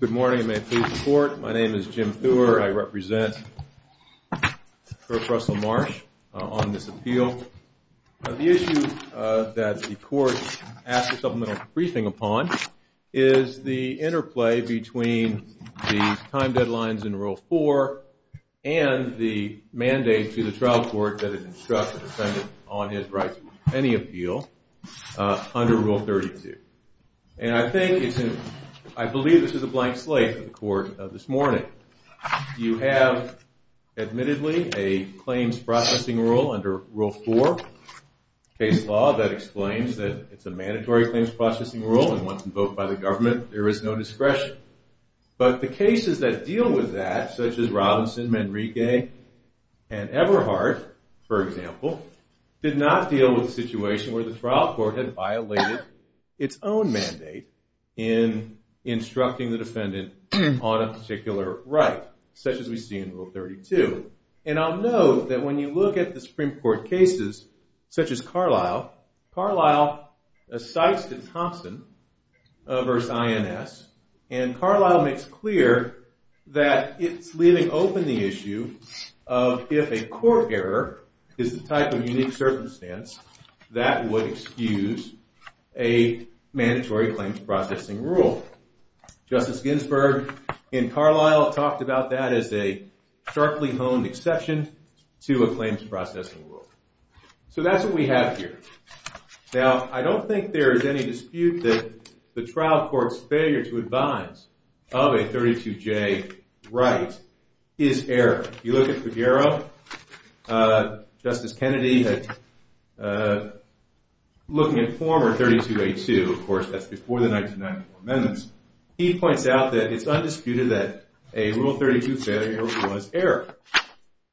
Good morning and may it please the court. My name is Jim Thur. I represent Kirk Russell Marsh on this appeal. The issue that the court asked a supplemental briefing upon is the interplay between the time deadlines in Rule 4 and the mandate to the trial court that it instructs the defendant on his rights to any appeal under Rule 32. And I believe this is a blank slate of the court this morning. You have admittedly a claims processing rule under Rule 4 case law that explains that it's a mandatory claims processing rule and once invoked by the government there is no discretion. But the cases that deal with that, such as Robinson, Manrique, and Everhart, for example, did not deal with a situation where the trial court had violated its own mandate in instructing the defendant on a particular right, such as we see in Rule 32. And I'll note that when you look at the Supreme Court cases, such as Carlisle, Carlisle cites the Thompson v. INS and Carlisle makes clear that it's leaving open the issue of if a court error is the type of unique circumstance that would excuse a mandatory claims processing rule. Justice Ginsburg in Carlisle talked about that as a sharply honed exception to a claims processing rule. So that's what we have here. Now, I don't think there is any dispute that the trial court's failure to advise of a 32J right is error. If you look at Figueroa, Justice Kennedy had, looking at former 32A2, of course that's before the 1994 amendments, he points out that it's undisputed that a Rule 32 failure was error.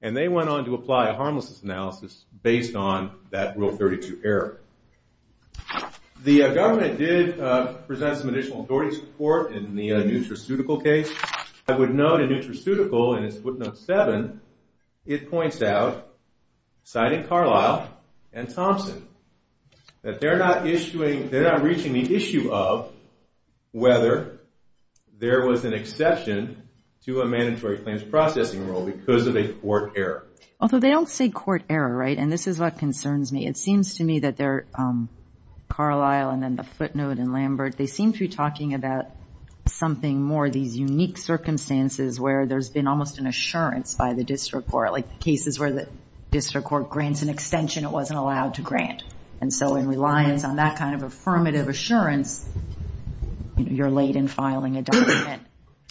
And they went on to apply a harmlessness analysis based on that Rule 32 error. The government did present some additional authority support in the Nutraceutical case. I would note in Nutraceutical in its footnote 7, it points out, citing Carlisle and Thompson, that they're not reaching the issue of whether there was an exception to a mandatory claims processing rule because of a court error. Although they don't say court error, right? And this is what concerns me. It seems to me that Carlisle and then the footnote in Lambert, they seem to be talking about something more, these unique circumstances where there's been almost an assurance by the district court, like cases where the district court grants an extension it wasn't allowed to grant. And so in reliance on that kind of affirmative assurance, you're late in filing a document.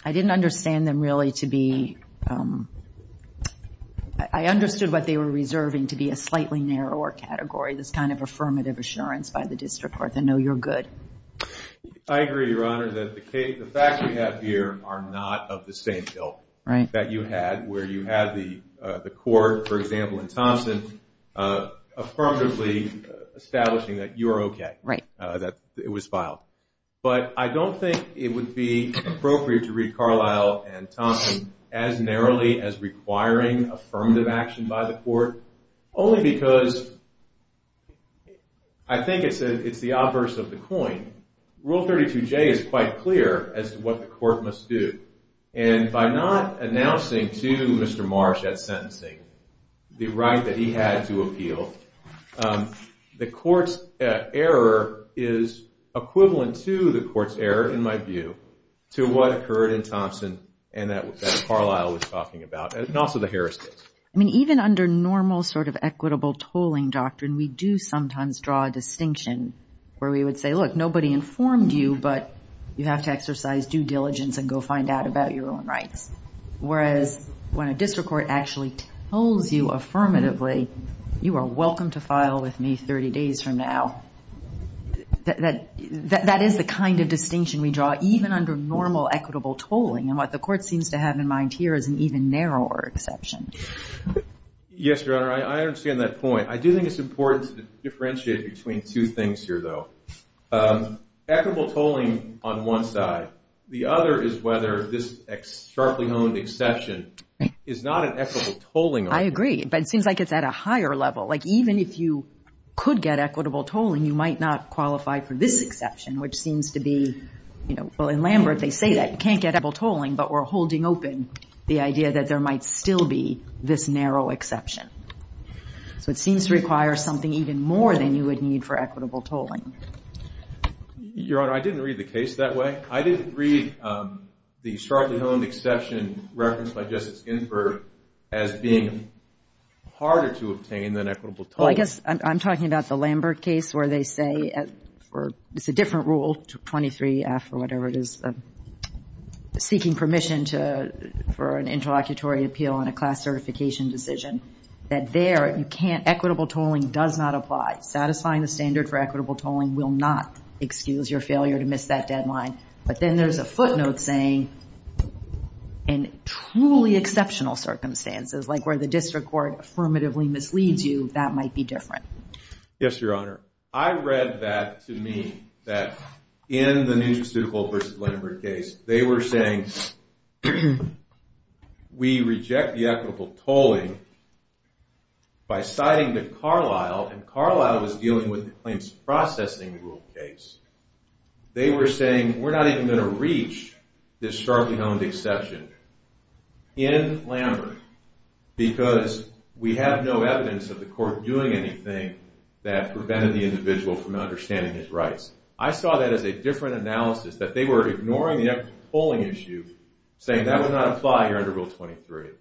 I didn't understand them really to be, I understood what they were reserving to be a slightly narrower category, this kind of affirmative assurance by the district court. I know you're good. I agree, Your Honor, that the facts we have here are not of the same ilk that you had, where you had the court, for example, in Thompson, affirmatively establishing that you're okay, that it was filed. But I don't think it would be appropriate to read Carlisle and Thompson as narrowly as requiring affirmative action by the court, only because I think it's the obverse of the coin. Rule 32J is quite clear as to what the court must do. And by not announcing to Mr. Marsh that sentencing, the right that he had to appeal, the court's error is equivalent to the court's error, in my view, to what occurred in Thompson and that Carlisle was talking about, and also the Harris case. I mean, even under normal sort of equitable tolling doctrine, we do sometimes draw a distinction where we would say, look, nobody informed you, but you have to exercise due diligence and go find out about your own rights. Whereas when a district court actually tells you affirmatively, you are welcome to file with me 30 days from now, that is the kind of distinction we draw, even under normal equitable tolling. And what the court seems to have in mind here is an even narrower exception. Yes, Your Honor, I understand that point. I do think it's important to differentiate between two things here, though. Equitable tolling on one side, the other is whether this sharply honed exception is not an equitable tolling. I agree, but it seems like it's at a higher level. Like, even if you could get equitable tolling, you might not qualify for this exception, which seems to be, well, in Lambert, they say that you can't get equitable tolling, but we're holding open the idea that there might still be this narrow exception. So it seems to require something even more than you would need for equitable tolling. Your Honor, I didn't read the case that way. I didn't read the sharply honed exception referenced by Justice Ginsburg as being harder to obtain than equitable tolling. Well, I guess I'm talking about the Lambert case where they say it's a different rule, 23-F or whatever it is, seeking permission for an interlocutory appeal on a class certification decision. That there, equitable tolling does not apply. Satisfying the standard for equitable tolling will not excuse your failure to miss that deadline. But then there's a footnote saying, in truly exceptional circumstances, like where the district court affirmatively misleads you, that might be different. Yes, Your Honor. I read that, to me, that in the New Jersey Suitable v. Lambert case, they were saying, we reject the equitable tolling by citing the Carlisle, and Carlisle was dealing with the claims processing rule case. They were saying, we're not even going to reach this sharply honed exception. In Lambert, because we have no evidence of the court doing anything that prevented the individual from understanding his rights. I saw that as a different analysis, that they were ignoring the equitable tolling issue, saying that would not apply here under Rule 23.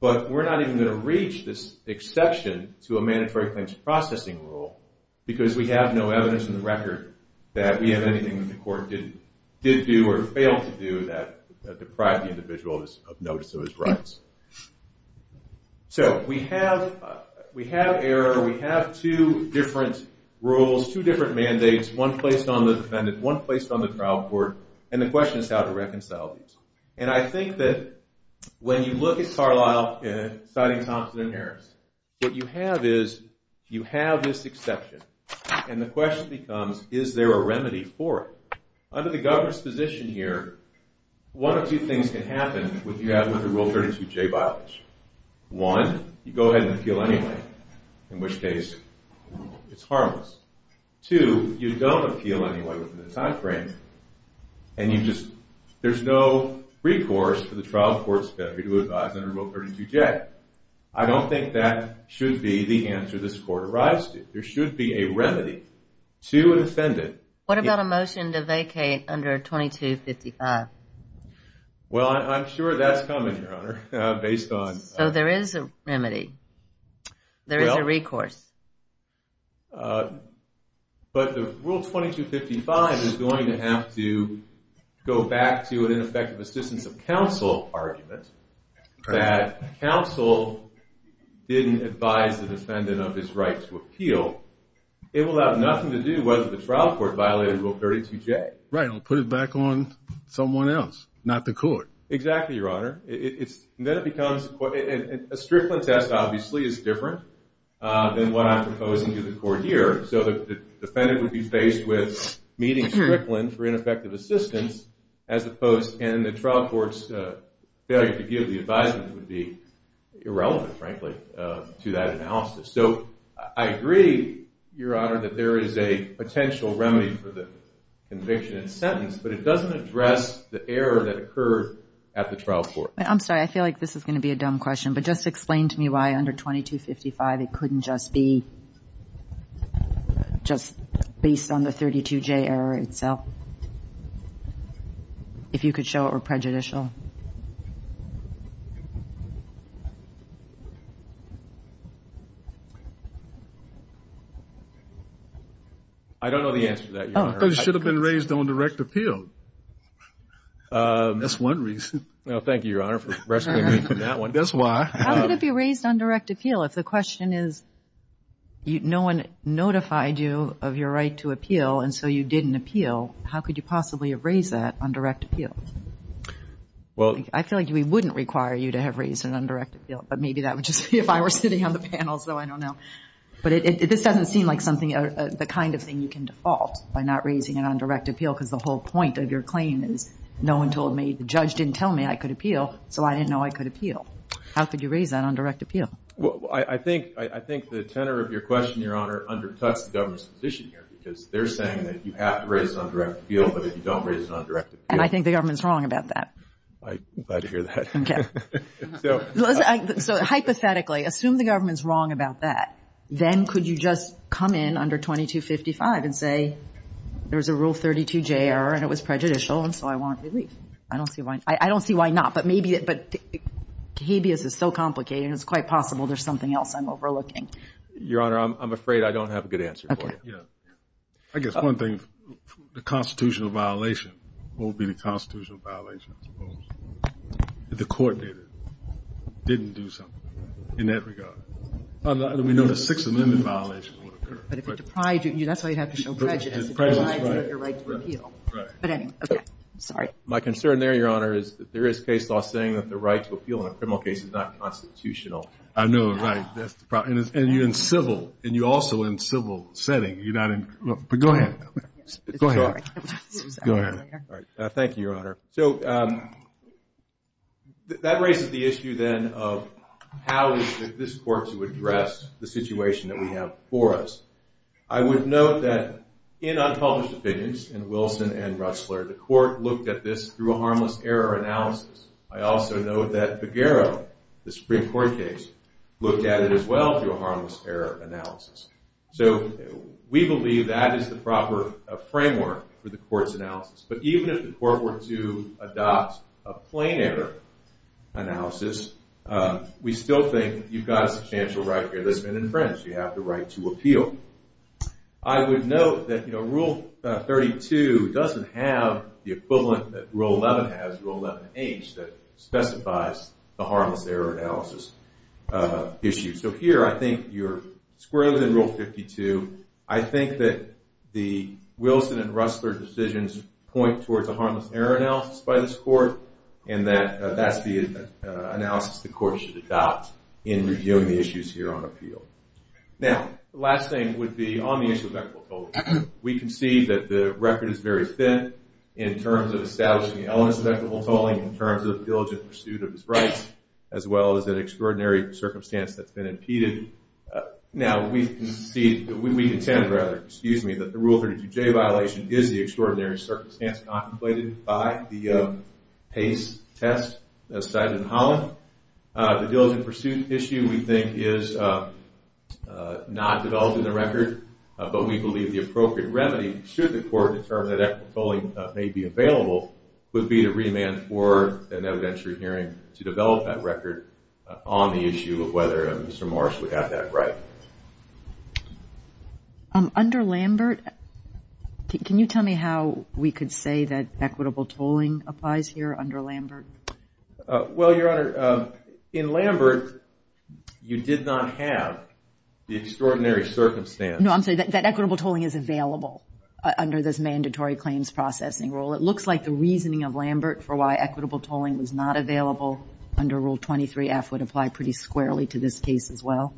But we're not even going to reach this exception to a mandatory claims processing rule, because we have no evidence in the record that we have anything that the court did do or failed to do that deprived the individual of notice of his rights. So we have error, we have two different rules, two different mandates, one placed on the defendant, one placed on the trial court, and the question is how to reconcile these. And I think that when you look at Carlisle, citing Thompson and Harris, what you have is, you have this exception, and the question becomes, is there a remedy for it? Under the governor's position here, one or two things can happen with the Rule 32J bylaws. One, you go ahead and appeal anyway, in which case it's harmless. Two, you don't appeal anyway within the time frame, and there's no recourse for the trial court's authority to advise under Rule 32J. I don't think that should be the answer this court arrives to. There should be a remedy to an offendant. What about a motion to vacate under Rule 2255? Well, I'm sure that's coming, Your Honor. So there is a remedy. There is a recourse. But the Rule 2255 is going to have to go back to an ineffective assistance of counsel argument that counsel didn't advise the defendant of his right to appeal. It will have nothing to do whether the trial court violated Rule 32J. Right, and put it back on someone else, not the court. Exactly, Your Honor. And then it becomes, a Strickland test obviously is different than what I'm proposing to the court here. So the defendant would be faced with meeting Strickland for ineffective assistance, as opposed, and the trial court's failure to give the advisement would be irrelevant, frankly, to that analysis. So I agree, Your Honor, that there is a potential remedy for the conviction and sentence, but it doesn't address the error that occurred at the trial court. I'm sorry. I feel like this is going to be a dumb question. But just explain to me why under 2255 it couldn't just be based on the 32J error itself. If you could show it were prejudicial. I don't know the answer to that, Your Honor. It should have been raised on direct appeal. That's one reason. Thank you, Your Honor, for rescuing me from that one. That's why. How could it be raised on direct appeal? If the question is no one notified you of your right to appeal and so you didn't appeal, how could you possibly have raised that on direct appeal? I feel like we wouldn't require you to have raised it on direct appeal, but maybe that would just be if I were sitting on the panel, so I don't know. But this doesn't seem like the kind of thing you can default by not raising it on direct appeal because the whole point of your claim is no one told me, the judge didn't tell me I could appeal, so I didn't know I could appeal. How could you raise that on direct appeal? Well, I think the tenor of your question, Your Honor, undercuts the government's position here because they're saying that you have to raise it on direct appeal, but if you don't raise it on direct appeal. And I think the government's wrong about that. I'm glad to hear that. Okay. So hypothetically, assume the government's wrong about that, then could you just come in under 2255 and say there was a Rule 32J error and it was prejudicial and so I want relief? I don't see why not. But maybe it's so complicated and it's quite possible there's something else I'm overlooking. Your Honor, I'm afraid I don't have a good answer for you. Okay. I guess one thing, the constitutional violation won't be the constitutional violation, I suppose. If the court didn't do something in that regard. We know the Sixth Amendment violation would occur. But if it deprived you, that's why you'd have to show prejudice. Right. But anyway, okay. Sorry. My concern there, Your Honor, is that there is case law saying that the right to appeal in a criminal case is not constitutional. I know. Right. And you're in civil. And you're also in civil setting. But go ahead. Go ahead. Sorry. Go ahead. Thank you, Your Honor. So that raises the issue then of how is this court to address the situation that we have for us. I would note that in unpublished opinions in Wilson and Ressler, the court looked at this through a harmless error analysis. I also note that Figueroa, the Supreme Court case, looked at it as well through a harmless error analysis. So we believe that is the proper framework for the court's analysis. But even if the court were to adopt a plain error analysis, we still think you've got a substantial right here. This has been infringed. You have the right to appeal. I would note that Rule 32 doesn't have the equivalent that Rule 11 has, Rule 11H, that specifies the harmless error analysis issue. So here I think you're squarely within Rule 52. I think that the Wilson and Ressler decisions point towards a harmless error analysis by this court and that that's the analysis the court should adopt in reviewing the issues here on appeal. Now, the last thing would be on the issue of equitable tolling. We can see that the record is very thin in terms of establishing the elements of equitable tolling, in terms of diligent pursuit of his rights, as well as an extraordinary circumstance that's been impeded. Now, we contend that the Rule 32J violation is the extraordinary circumstance contemplated by the PACE test cited in Holland. The diligent pursuit issue, we think, is not developed in the record, but we believe the appropriate remedy, should the court determine that equitable tolling may be available, would be to remand for an evidentiary hearing to develop that record on the issue of whether Mr. Morris would have that right. Under Lambert, can you tell me how we could say that equitable tolling applies here under Lambert? Well, Your Honor, in Lambert, you did not have the extraordinary circumstance. No, I'm sorry, that equitable tolling is available under this mandatory claims processing rule. It looks like the reasoning of Lambert for why equitable tolling was not available under Rule 23F would apply pretty squarely to this case as well.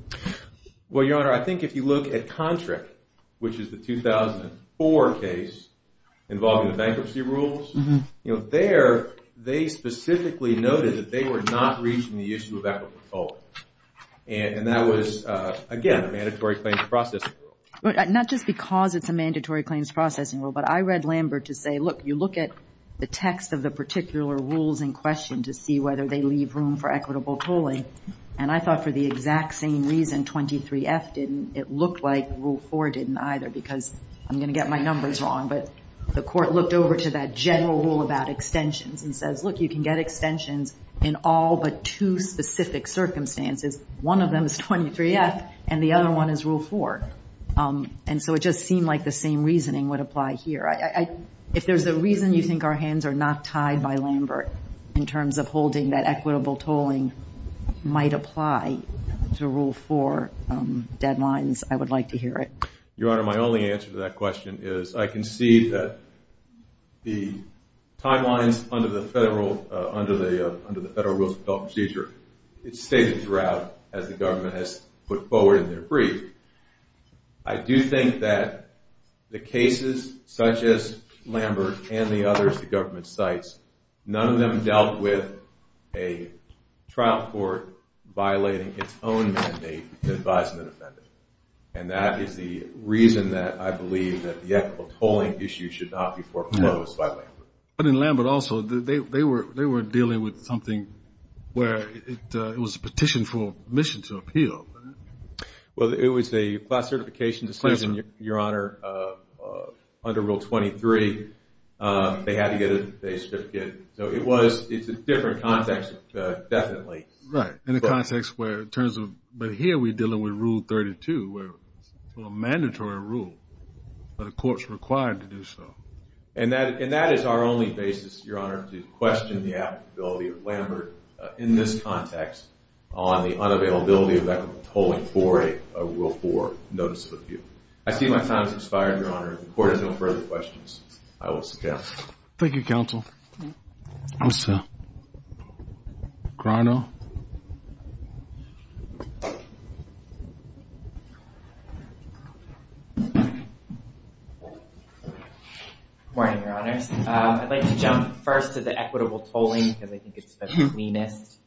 Well, Your Honor, I think if you look at Contract, which is the 2004 case involving the bankruptcy rules, there, they specifically noted that they were not reaching the issue of equitable tolling. And that was, again, a mandatory claims processing rule. Not just because it's a mandatory claims processing rule, but I read Lambert to say, look, you look at the text of the particular rules in question to see whether they leave room for equitable tolling. And I thought for the exact same reason 23F didn't, it looked like Rule 4 didn't either, because I'm going to get my numbers wrong. But the court looked over to that general rule about extensions and says, look, you can get extensions in all but two specific circumstances. One of them is 23F, and the other one is Rule 4. And so it just seemed like the same reasoning would apply here. If there's a reason you think our hands are not tied by Lambert in terms of holding that equitable tolling might apply to Rule 4 deadlines, I would like to hear it. Your Honor, my only answer to that question is I can see that the timelines under the Federal Rules of Development Procedure, it's stated throughout as the government has put forward in their brief. I do think that the cases such as Lambert and the others the government cites, none of them dealt with a trial court violating its own mandate to advise an offender. And that is the reason that I believe that the equitable tolling issue should not be foreclosed by Lambert. But in Lambert also, they were dealing with something where it was a petition for admission to appeal. Well, it was a class certification decision, Your Honor, under Rule 23. They had to get a certificate. So it was, it's a different context definitely. Right, in the context where in terms of, but here we're dealing with Rule 32 where it's a mandatory rule, but the court's required to do so. And that is our only basis, Your Honor, to question the applicability of Lambert in this context on the unavailability of equitable tolling for a Rule 4 notice of appeal. I see my time has expired, Your Honor. If the court has no further questions, I will sit down. Thank you, Counsel. Counsel. Grano. Good morning, Your Honors. I'd like to jump first to the equitable tolling, because I think it's the cleanest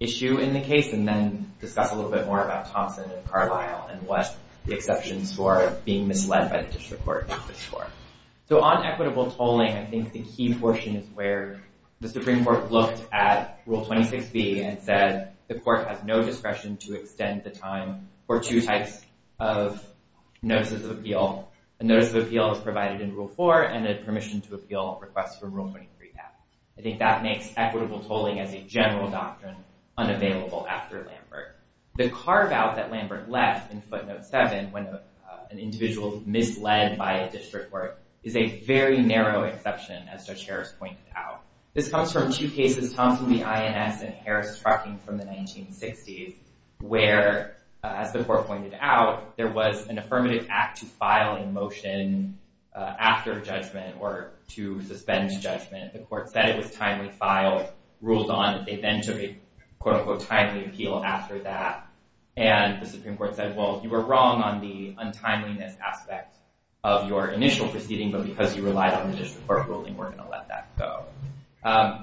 issue in the case, and then discuss a little bit more about Thompson and Carlyle and what the exceptions for being misled by the district court is for. So on equitable tolling, I think the key portion is where the Supreme Court looked at Rule 26b and said the court has no discretion to extend the time for two types of notices of appeal. A notice of appeal is provided in Rule 4 and a permission to appeal request for Rule 23 passed. I think that makes equitable tolling as a general doctrine unavailable after Lambert. The carve-out that Lambert left in footnote 7 when an individual is misled by a district court is a very narrow exception, as Judge Harris pointed out. This comes from two cases, Thompson v. INS and Harris-Trucking from the 1960s, where, as the court pointed out, there was an affirmative act to file in motion after judgment or to suspend judgment. The court said it was timely filed, ruled on, and they then took a quote-unquote timely appeal after that. And the Supreme Court said, well, you were wrong on the untimeliness aspect of your initial proceeding, but because you relied on the district court ruling, we're going to let that go.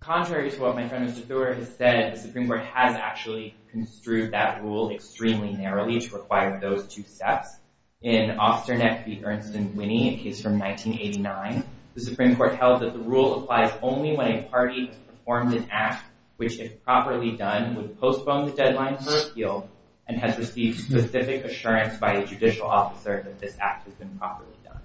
Contrary to what my friend Mr. Thur has said, the Supreme Court has actually construed that rule extremely narrowly to require those two steps. In Osterneck v. Ernst & Winney, a case from 1989, the Supreme Court held that the rule applies only when a party has performed an act which, if properly done, would postpone the deadline for appeal and has received specific assurance by a judicial officer that this act has been properly done.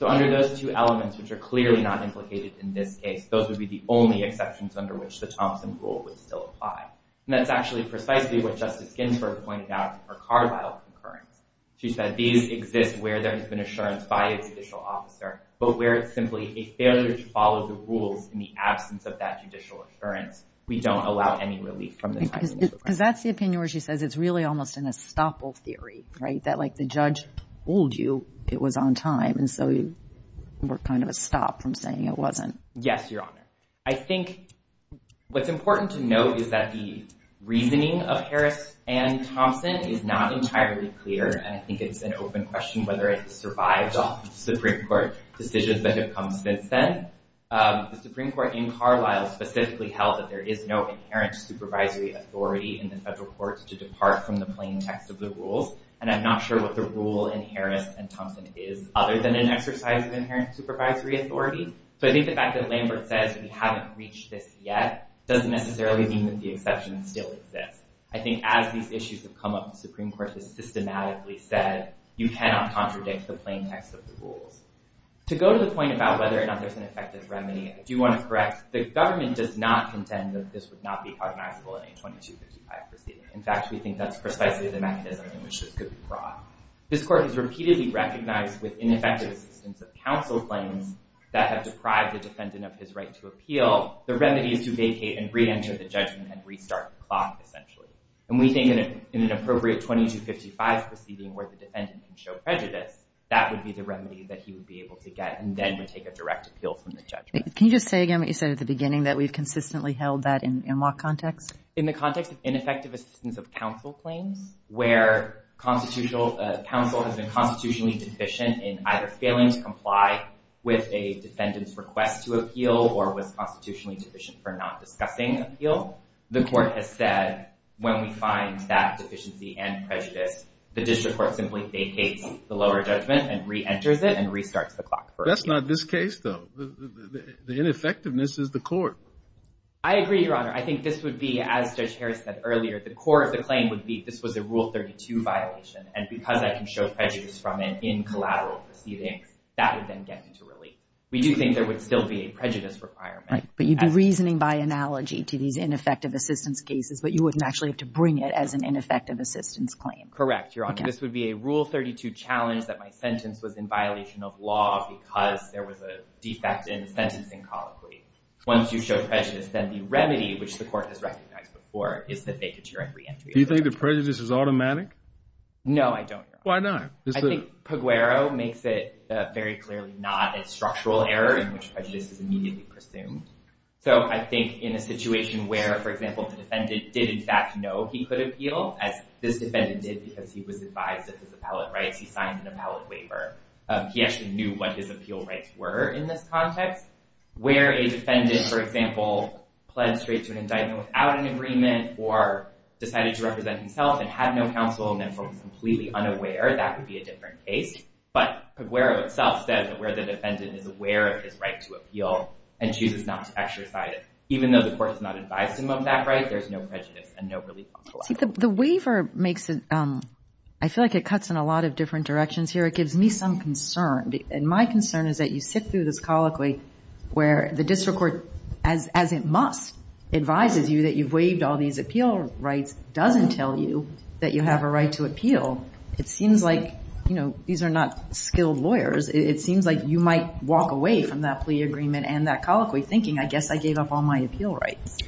So under those two elements, which are clearly not implicated in this case, those would be the only exceptions under which the Thompson rule would still apply. And that's actually precisely what Justice Ginsburg pointed out for Carlyle concurrence. She said, these exist where there has been assurance by a judicial officer, but where it's simply a failure to follow the rules in the absence of that judicial assurance, we don't allow any relief from the timeliness requirement. Because that's the opinion where she says it's really almost an estoppel theory, right? That, like, the judge ruled you it was on time, and so you were kind of a stop from saying it wasn't. Yes, Your Honor. I think what's important to note is that the reasoning of Harris and Thompson is not entirely clear, and I think it's an open question whether it survived Supreme Court decisions that have come since then. The Supreme Court in Carlyle specifically held that there is no inherent supervisory authority in the federal courts to depart from the plain text of the rules, and I'm not sure what the rule in Harris and Thompson is, other than an exercise of inherent supervisory authority. So I think the fact that Lambert says we haven't reached this yet doesn't necessarily mean that the exception still exists. I think as these issues have come up, the Supreme Court has systematically said you cannot contradict the plain text of the rules. To go to the point about whether or not there's an effective remedy, I do want to correct. The government does not contend that this would not be cognizable in a 2255 proceeding. In fact, we think that's precisely the mechanism in which this could be brought. This Court has repeatedly recognized with ineffective assistance of counsel claims that have deprived the defendant of his right to appeal, the remedy is to vacate and reenter the judgment and restart the clock, essentially. And we think in an appropriate 2255 proceeding where the defendant can show prejudice, that would be the remedy that he would be able to get and then would take a direct appeal from the judgment. Can you just say again what you said at the beginning, that we've consistently held that in what context? In the context of ineffective assistance of counsel claims where counsel has been constitutionally deficient in either failing to comply with a defendant's request to appeal or was constitutionally deficient for not discussing appeal, the Court has said when we find that deficiency and prejudice, the district court simply vacates the lower judgment and reenters it and restarts the clock. That's not this case, though. The ineffectiveness is the Court. I agree, Your Honor. I think this would be, as Judge Harris said earlier, the core of the claim would be this was a Rule 32 violation, and because I can show prejudice from it in collateral proceedings, that would then get into relief. We do think there would still be a prejudice requirement. Right, but you'd be reasoning by analogy to these ineffective assistance cases, but you wouldn't actually have to bring it as an ineffective assistance claim. Correct, Your Honor. This would be a Rule 32 challenge that my sentence was in violation of law because there was a defect in the sentencing colloquy. Once you show prejudice, then the remedy, which the Court has recognized before, is the vacature and reentry. Do you think the prejudice is automatic? No, I don't, Your Honor. Why not? I think Peguero makes it very clearly not. It's structural error in which prejudice is immediately presumed. So I think in a situation where, for example, the defendant did in fact know he could appeal, as this defendant did because he was advised of his appellate rights, he signed an appellate waiver, he actually knew what his appeal rights were in this context, where a defendant, for example, pled straight to an indictment without an agreement or decided to represent himself and had no counsel and therefore was completely unaware, that would be a different case. But Peguero itself says that where the defendant is aware of his right to appeal and chooses not to exercise it, even though the Court has not advised him of that right, there's no prejudice and no relief on the left. See, the waiver makes it – I feel like it cuts in a lot of different directions here. It gives me some concern, and my concern is that you sit through this colloquy where the district court, as it must, advises you that you've waived all these appeal rights, doesn't tell you that you have a right to appeal. It seems like, you know, these are not skilled lawyers. It seems like you might walk away from that plea agreement and that colloquy thinking, I guess I gave up all my appeal rights.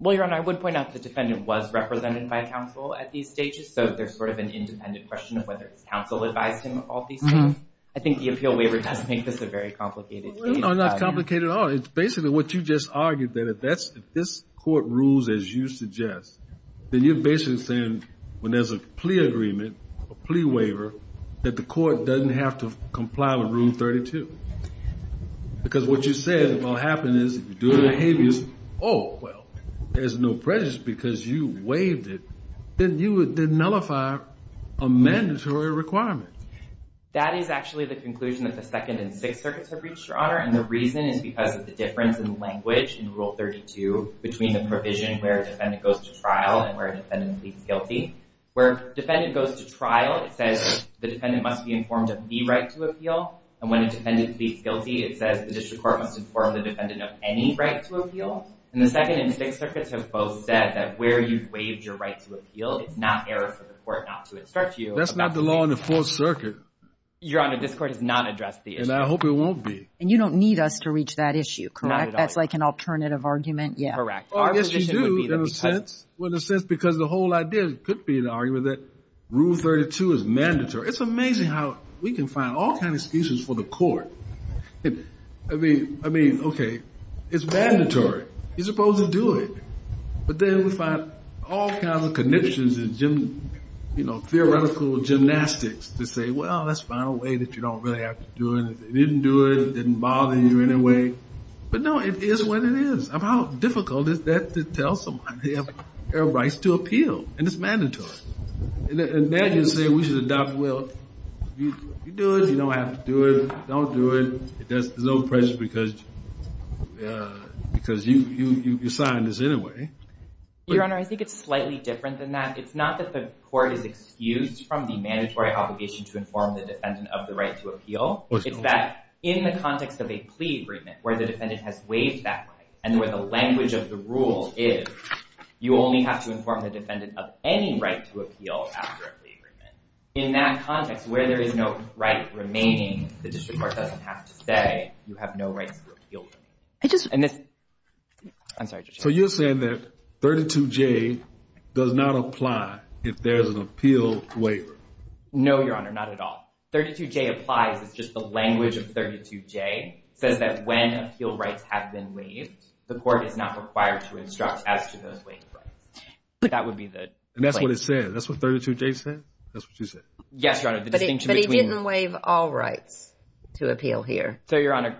Well, Your Honor, I would point out the defendant was represented by counsel at these stages, so there's sort of an independent question of whether his counsel advised him of all these things. I think the appeal waiver does make this a very complicated case. No, not complicated at all. It's basically what you just argued, that if this Court rules as you suggest, then you're basically saying when there's a plea agreement, a plea waiver, that the Court doesn't have to comply with Rule 32. Because what you said, if all that happened is you're doing behaviors, oh, well, there's no prejudice because you waived it, then you would nullify a mandatory requirement. That is actually the conclusion that the Second and Sixth Circuits have reached, Your Honor, and the reason is because of the difference in language in Rule 32 between the provision where a defendant goes to trial and where a defendant pleads guilty. Where a defendant goes to trial, it says the defendant must be informed of the right to appeal, and when a defendant pleads guilty, it says the District Court must inform the defendant of any right to appeal. And the Second and Sixth Circuits have both said that where you've waived your right to appeal, it's not error for the Court not to instruct you. That's not the law in the Fourth Circuit. Your Honor, this Court has not addressed the issue. And I hope it won't be. And you don't need us to reach that issue, correct? Not at all. That's like an alternative argument? Correct. Well, I guess you do, in a sense, because the whole idea could be an argument that Rule 32 is mandatory. It's amazing how we can find all kinds of excuses for the Court. I mean, okay, it's mandatory. You're supposed to do it. But then we find all kinds of conniptions and theoretical gymnastics to say, well, let's find a way that you don't really have to do it. They didn't do it. It didn't bother you in any way. But no, it is what it is. How difficult is that to tell somebody they have rights to appeal? And it's mandatory. And now you're saying we should adopt, well, you do it. You don't have to do it. Don't do it. There's no pressure because you signed this anyway. Your Honor, I think it's slightly different than that. It's not that the Court is excused from the mandatory obligation to inform the defendant of the right to appeal. It's that in the context of a plea agreement, where the defendant has waived that right and where the language of the rule is, you only have to inform the defendant of any right to appeal after a plea agreement. In that context, where there is no right remaining, the District Court doesn't have to say you have no rights to appeal. I just... I'm sorry. So you're saying that 32J does not apply if there's an appeal waiver? No, Your Honor, not at all. 32J applies. It's just the language of 32J says that when appeal rights have been waived, the Court is not required to instruct as to those waived rights. That would be the place. And that's what it said. That's what 32J said? That's what you said? Yes, Your Honor. But it didn't waive all rights to appeal here. So, Your Honor,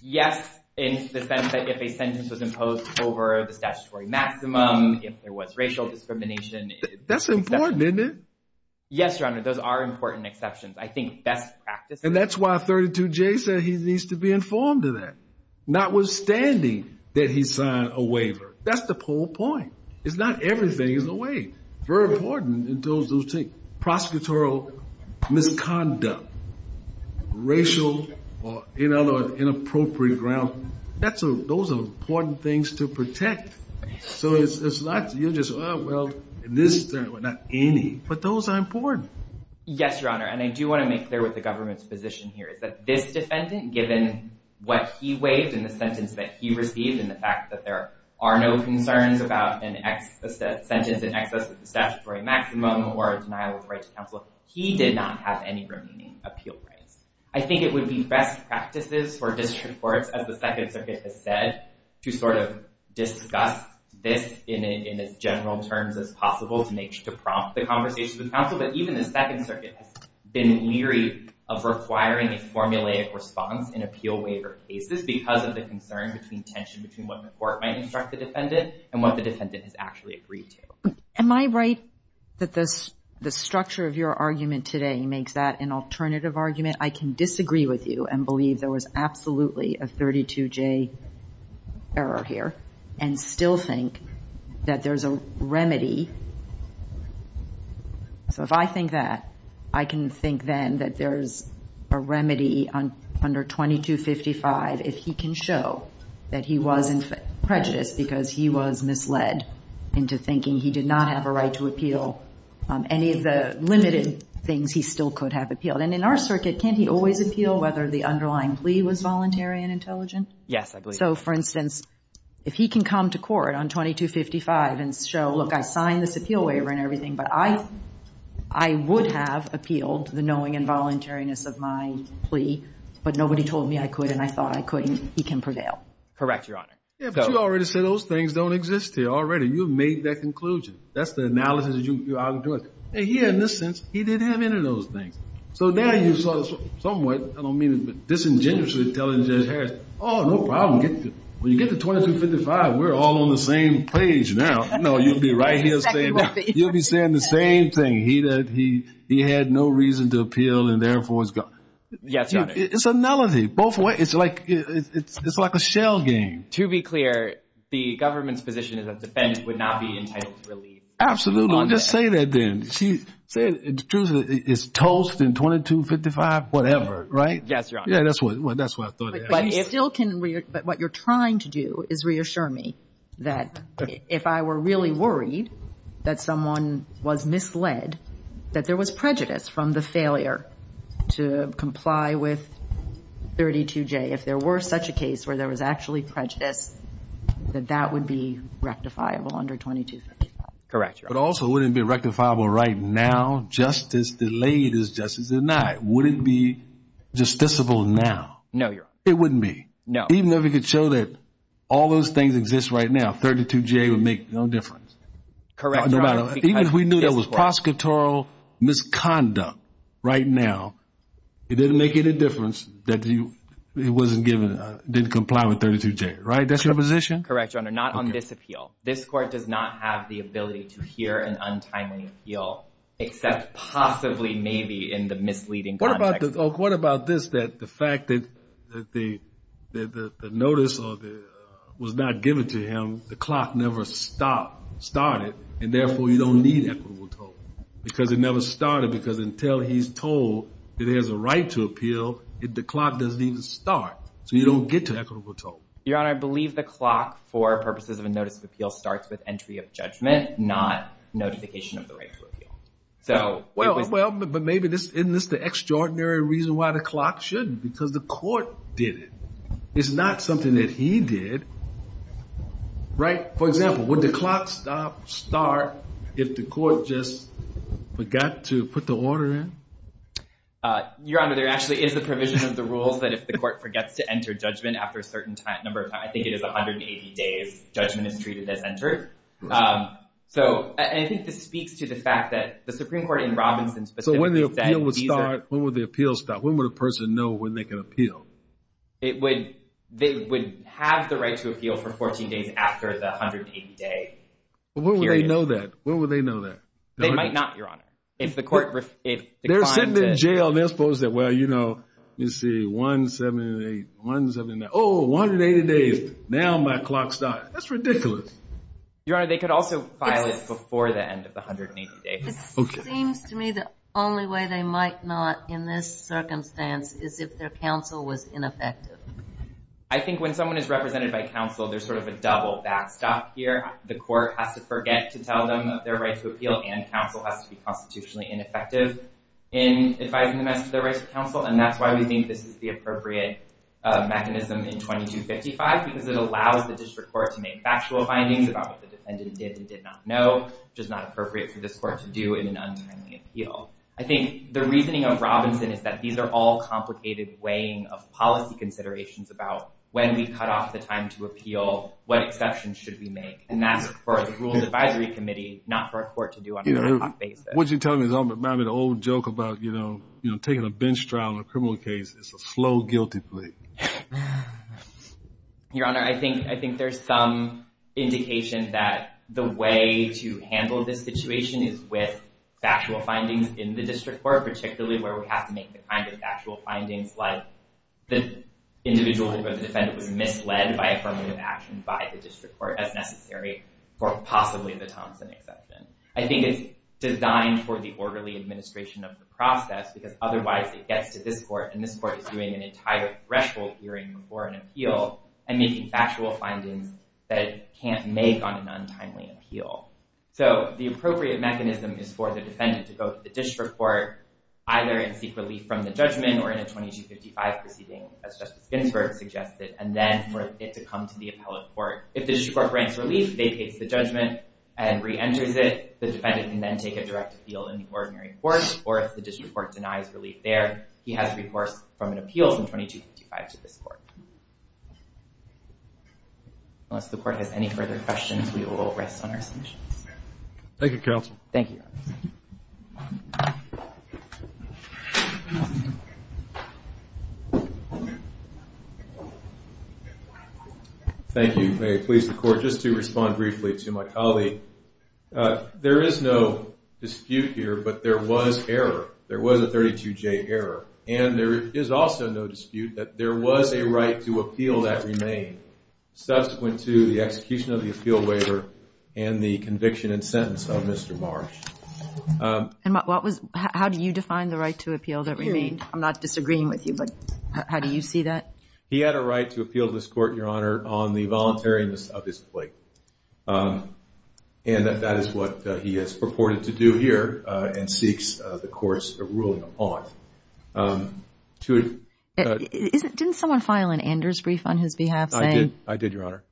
yes, in the sense that if a sentence was imposed over the statutory maximum, if there was racial discrimination... That's important, isn't it? Yes, Your Honor, those are important exceptions. I think best practice... And that's why 32J said he needs to be informed of that, notwithstanding that he signed a waiver. That's the whole point. It's not everything is a waiver. It's very important in terms of prosecutorial misconduct, racial, or in other words, inappropriate grounds. Those are important things to protect. So it's not... You just... Well, this... Not any, but those are important. Yes, Your Honor. And I do want to make clear what the government's position here is. That this defendant, given what he waived in the sentence that he received and the fact that there are no concerns about a sentence in excess of the statutory maximum or a denial of the right to counsel, he did not have any remaining appeal rights. I think it would be best practices for district courts, as the Second Circuit has said, to sort of discuss this in as general terms as possible to prompt the conversation with counsel. But even the Second Circuit has been leery of requiring a formulaic response in appeal waiver cases because of the concern between tension between what the court might instruct the defendant and what the defendant has actually agreed to. Am I right that the structure of your argument today makes that an alternative argument? I can disagree with you and believe there was absolutely a 32-J error here and still think that there's a remedy. So if I think that, I can think then that there's a remedy under 2255 if he can show that he was prejudiced because he was misled into thinking he did not have a right to appeal any of the limited things he still could have appealed. And in our circuit, can't he always appeal whether the underlying plea was voluntary and intelligent? Yes, I believe so. So, for instance, if he can come to court on 2255 and show, look, I signed this appeal waiver and everything, but I would have appealed the knowing and voluntariness of my plea, but nobody told me I could and I thought I couldn't, he can prevail. Correct, Your Honor. Yeah, but you already said those things don't exist here already. You've made that conclusion. That's the analysis you're arguing. And here, in this sense, he didn't have any of those things. So there you saw somewhat, I don't mean it disingenuously, telling Judge Harris, oh, no problem. When you get to 2255, we're all on the same page now. No, you'll be right here saying that. You'll be saying the same thing. He had no reason to appeal and therefore was guilty. Yes, Your Honor. It's a melody. It's like a shell game. To be clear, the government's position is that defense would not be entitled to relief. Absolutely. Just say that then. Truth is, it's toast in 2255, whatever, right? Yes, Your Honor. Yeah, that's what I thought it was. But what you're trying to do is reassure me that if I were really worried that someone was misled, that there was prejudice from the failure to comply with 32J. If there were such a case where there was actually prejudice, that that would be rectifiable under 2255. Correct, Your Honor. But also, would it be rectifiable right now just as delayed as justice denied? Would it be justiciable now? No, Your Honor. It wouldn't be. No. Even if it could show that all those things exist right now, 32J would make no difference. Correct, Your Honor. Even if we knew there was prosecutorial misconduct right now, it didn't make any difference that it didn't comply with 32J, right? That's your position? Correct, Your Honor, not on this appeal. This court does not have the ability to hear an untimely appeal, except possibly maybe in the misleading context. What about this, that the fact that the notice was not given to him, the clock never started, and therefore you don't need equitable toll? Because it never started, because until he's told that he has a right to appeal, the clock doesn't even start. So you don't get to equitable toll. Your Honor, I believe the clock for purposes of a notice of appeal starts with entry of judgment, not notification of the right to appeal. Well, but maybe isn't this the extraordinary reason why the clock shouldn't? Because the court did it. It's not something that he did, right? For example, would the clock stop, start, if the court just forgot to put the order in? Your Honor, there actually is a provision of the rules that if the court forgets to enter judgment after a certain number of times, I think it is 180 days, judgment is treated as entered. So I think this speaks to the fact that the Supreme Court in Robinson specifically said So when the appeal would start, when would the appeal stop? It would have the right to appeal for 14 days after the 180-day period. When would they know that? They might not, Your Honor. They're sitting in jail and they're supposed to say, Well, you know, let me see, 178, 179, oh, 180 days. Now my clock starts. That's ridiculous. Your Honor, they could also file it before the end of the 180 days. It seems to me the only way they might not in this circumstance is if their counsel was ineffective. I think when someone is represented by counsel, there's sort of a double backstop here. The court has to forget to tell them that their right to appeal and counsel has to be constitutionally ineffective in advising them as to their right to counsel, and that's why we think this is the appropriate mechanism in 2255 because it allows the district court to make factual findings about what the defendant did and did not know, which is not appropriate for this court to do in an untimely appeal. I think the reasoning of Robinson is that these are all complicated weighing of policy considerations about when we cut off the time to appeal, what exceptions should we make, and that's for the Rules Advisory Committee, not for a court to do on a regular basis. What you're telling me is reminding me of the old joke about, you know, taking a bench trial in a criminal case. It's a slow guilty plea. Your Honor, I think there's some indication that the way to handle this situation is with factual findings in the district court, particularly where we have to make the kind of factual findings like the individual who was a defendant was misled by affirmative action by the district court as necessary for possibly the Thompson exception. I think it's designed for the orderly administration of the process because otherwise it gets to this court, and this court is doing an entire threshold hearing before an appeal and making factual findings that it can't make on an untimely appeal. So the appropriate mechanism is for the defendant to go to the district court either and seek relief from the judgment or in a 2255 proceeding as Justice Ginsburg suggested and then for it to come to the appellate court. If the district court grants relief, vacates the judgment and reenters it, the defendant can then take a direct appeal in the ordinary court, or if the district court denies relief there, he has a recourse from an appeal from 2255 to this court. Unless the court has any further questions, we will rest on our submissions. Thank you, counsel. Thank you. Thank you. May it please the Court, just to respond briefly to my colleague. There is no dispute here, but there was error. There was a 32J error. And there is also no dispute that there was a right to appeal that remained subsequent to the execution of the appeal waiver and the conviction and sentence of Mr. Marsh. How do you define the right to appeal that remained? I'm not disagreeing with you, but how do you see that? He had a right to appeal to this court, Your Honor, on the voluntariness of his plea. And that is what he has purported to do here and seeks the court's ruling upon. Didn't someone file an Anders brief on his behalf saying? I did, Your Honor.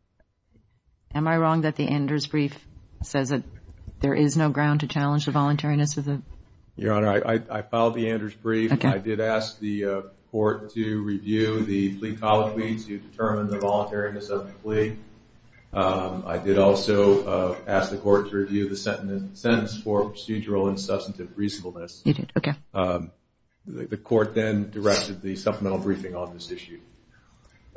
Am I wrong that the Anders brief says that there is no ground to challenge the voluntariness of the? Your Honor, I filed the Anders brief. I did ask the court to review the plea colloquy to determine the voluntariness of the plea. I did also ask the court to review the sentence for procedural and substantive reasonableness. You did, okay. The court then directed the supplemental briefing on this issue.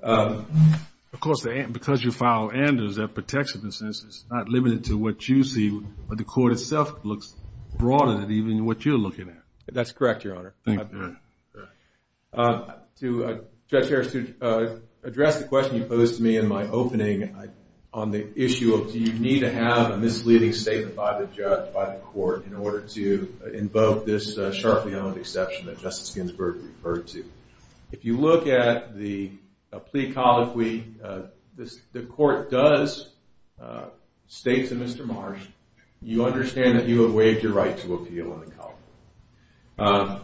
Of course, because you filed Anders, that protects the consensus. It's not limited to what you see, but the court itself looks broader than even what you're looking at. That's correct, Your Honor. To address the question you posed to me in my opening on the issue of do you need to have a misleading statement by the judge, by the court, in order to invoke this sharply honed exception that Justice Ginsburg referred to. If you look at the plea colloquy, the court does state to Mr. Marsh, you understand that you have waived your right to appeal in the college.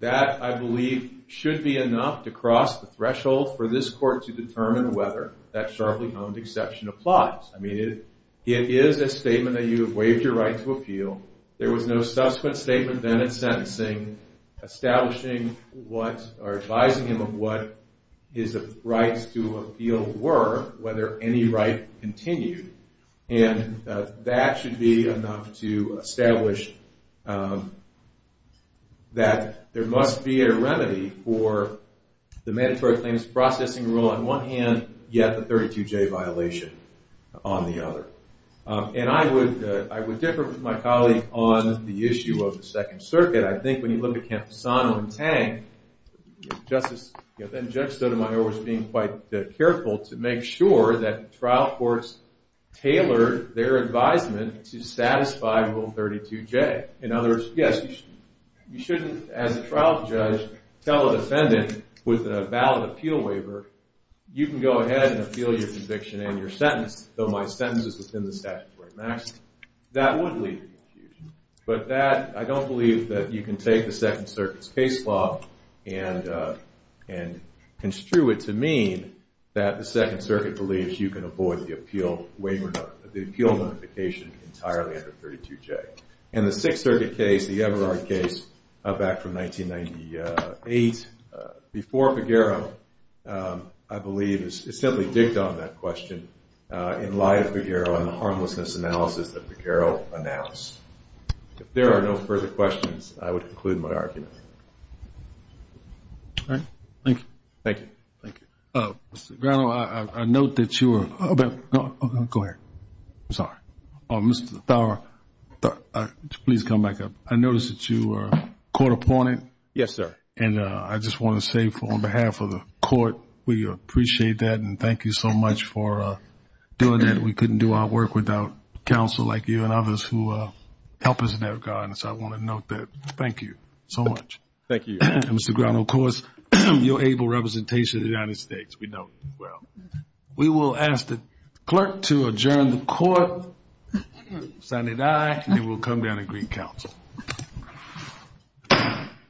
That, I believe, should be enough to cross the threshold for this court to determine whether that sharply honed exception applies. I mean, it is a statement that you have waived your right to appeal. There was no subsequent statement then in sentencing advising him of what his rights to appeal were, whether any right continued. And that should be enough to establish that there must be a remedy for the mandatory claims processing rule on one hand, yet the 32J violation on the other. And I would differ with my colleague on the issue of the Second Circuit. I think when you look at Camposano and Tang, Justice Sotomayor was being quite careful to make sure that trial courts tailored their advisement to satisfy Rule 32J. In other words, yes, you shouldn't, as a trial judge, tell a defendant with a ballot appeal waiver, you can go ahead and appeal your conviction and your sentence, though my sentence is within the statutory maximum. That would lead to confusion. But that, I don't believe that you can take the Second Circuit's case law and construe it to mean that the Second Circuit believes that you can avoid the appeal notification entirely under 32J. And the Sixth Circuit case, the Everard case back from 1998, before Figueroa, I believe, is simply dicked on that question in light of Figueroa and the harmlessness analysis that Figueroa announced. If there are no further questions, I would conclude my argument. All right. Thank you. Thank you. Thank you. Mr. Grano, I note that you are about to go ahead. I'm sorry. Mr. Thower, please come back up. I noticed that you were court appointed. Yes, sir. And I just want to say on behalf of the court, we appreciate that and thank you so much for doing that. We couldn't do our work without counsel like you and others who help us in that regard. So I want to note that. Thank you so much. Thank you. Thank you. Mr. Grano, of course, you're able representation of the United States. We know that as well. We will ask the clerk to adjourn the court. Sign it aye. And then we'll come down and greet counsel.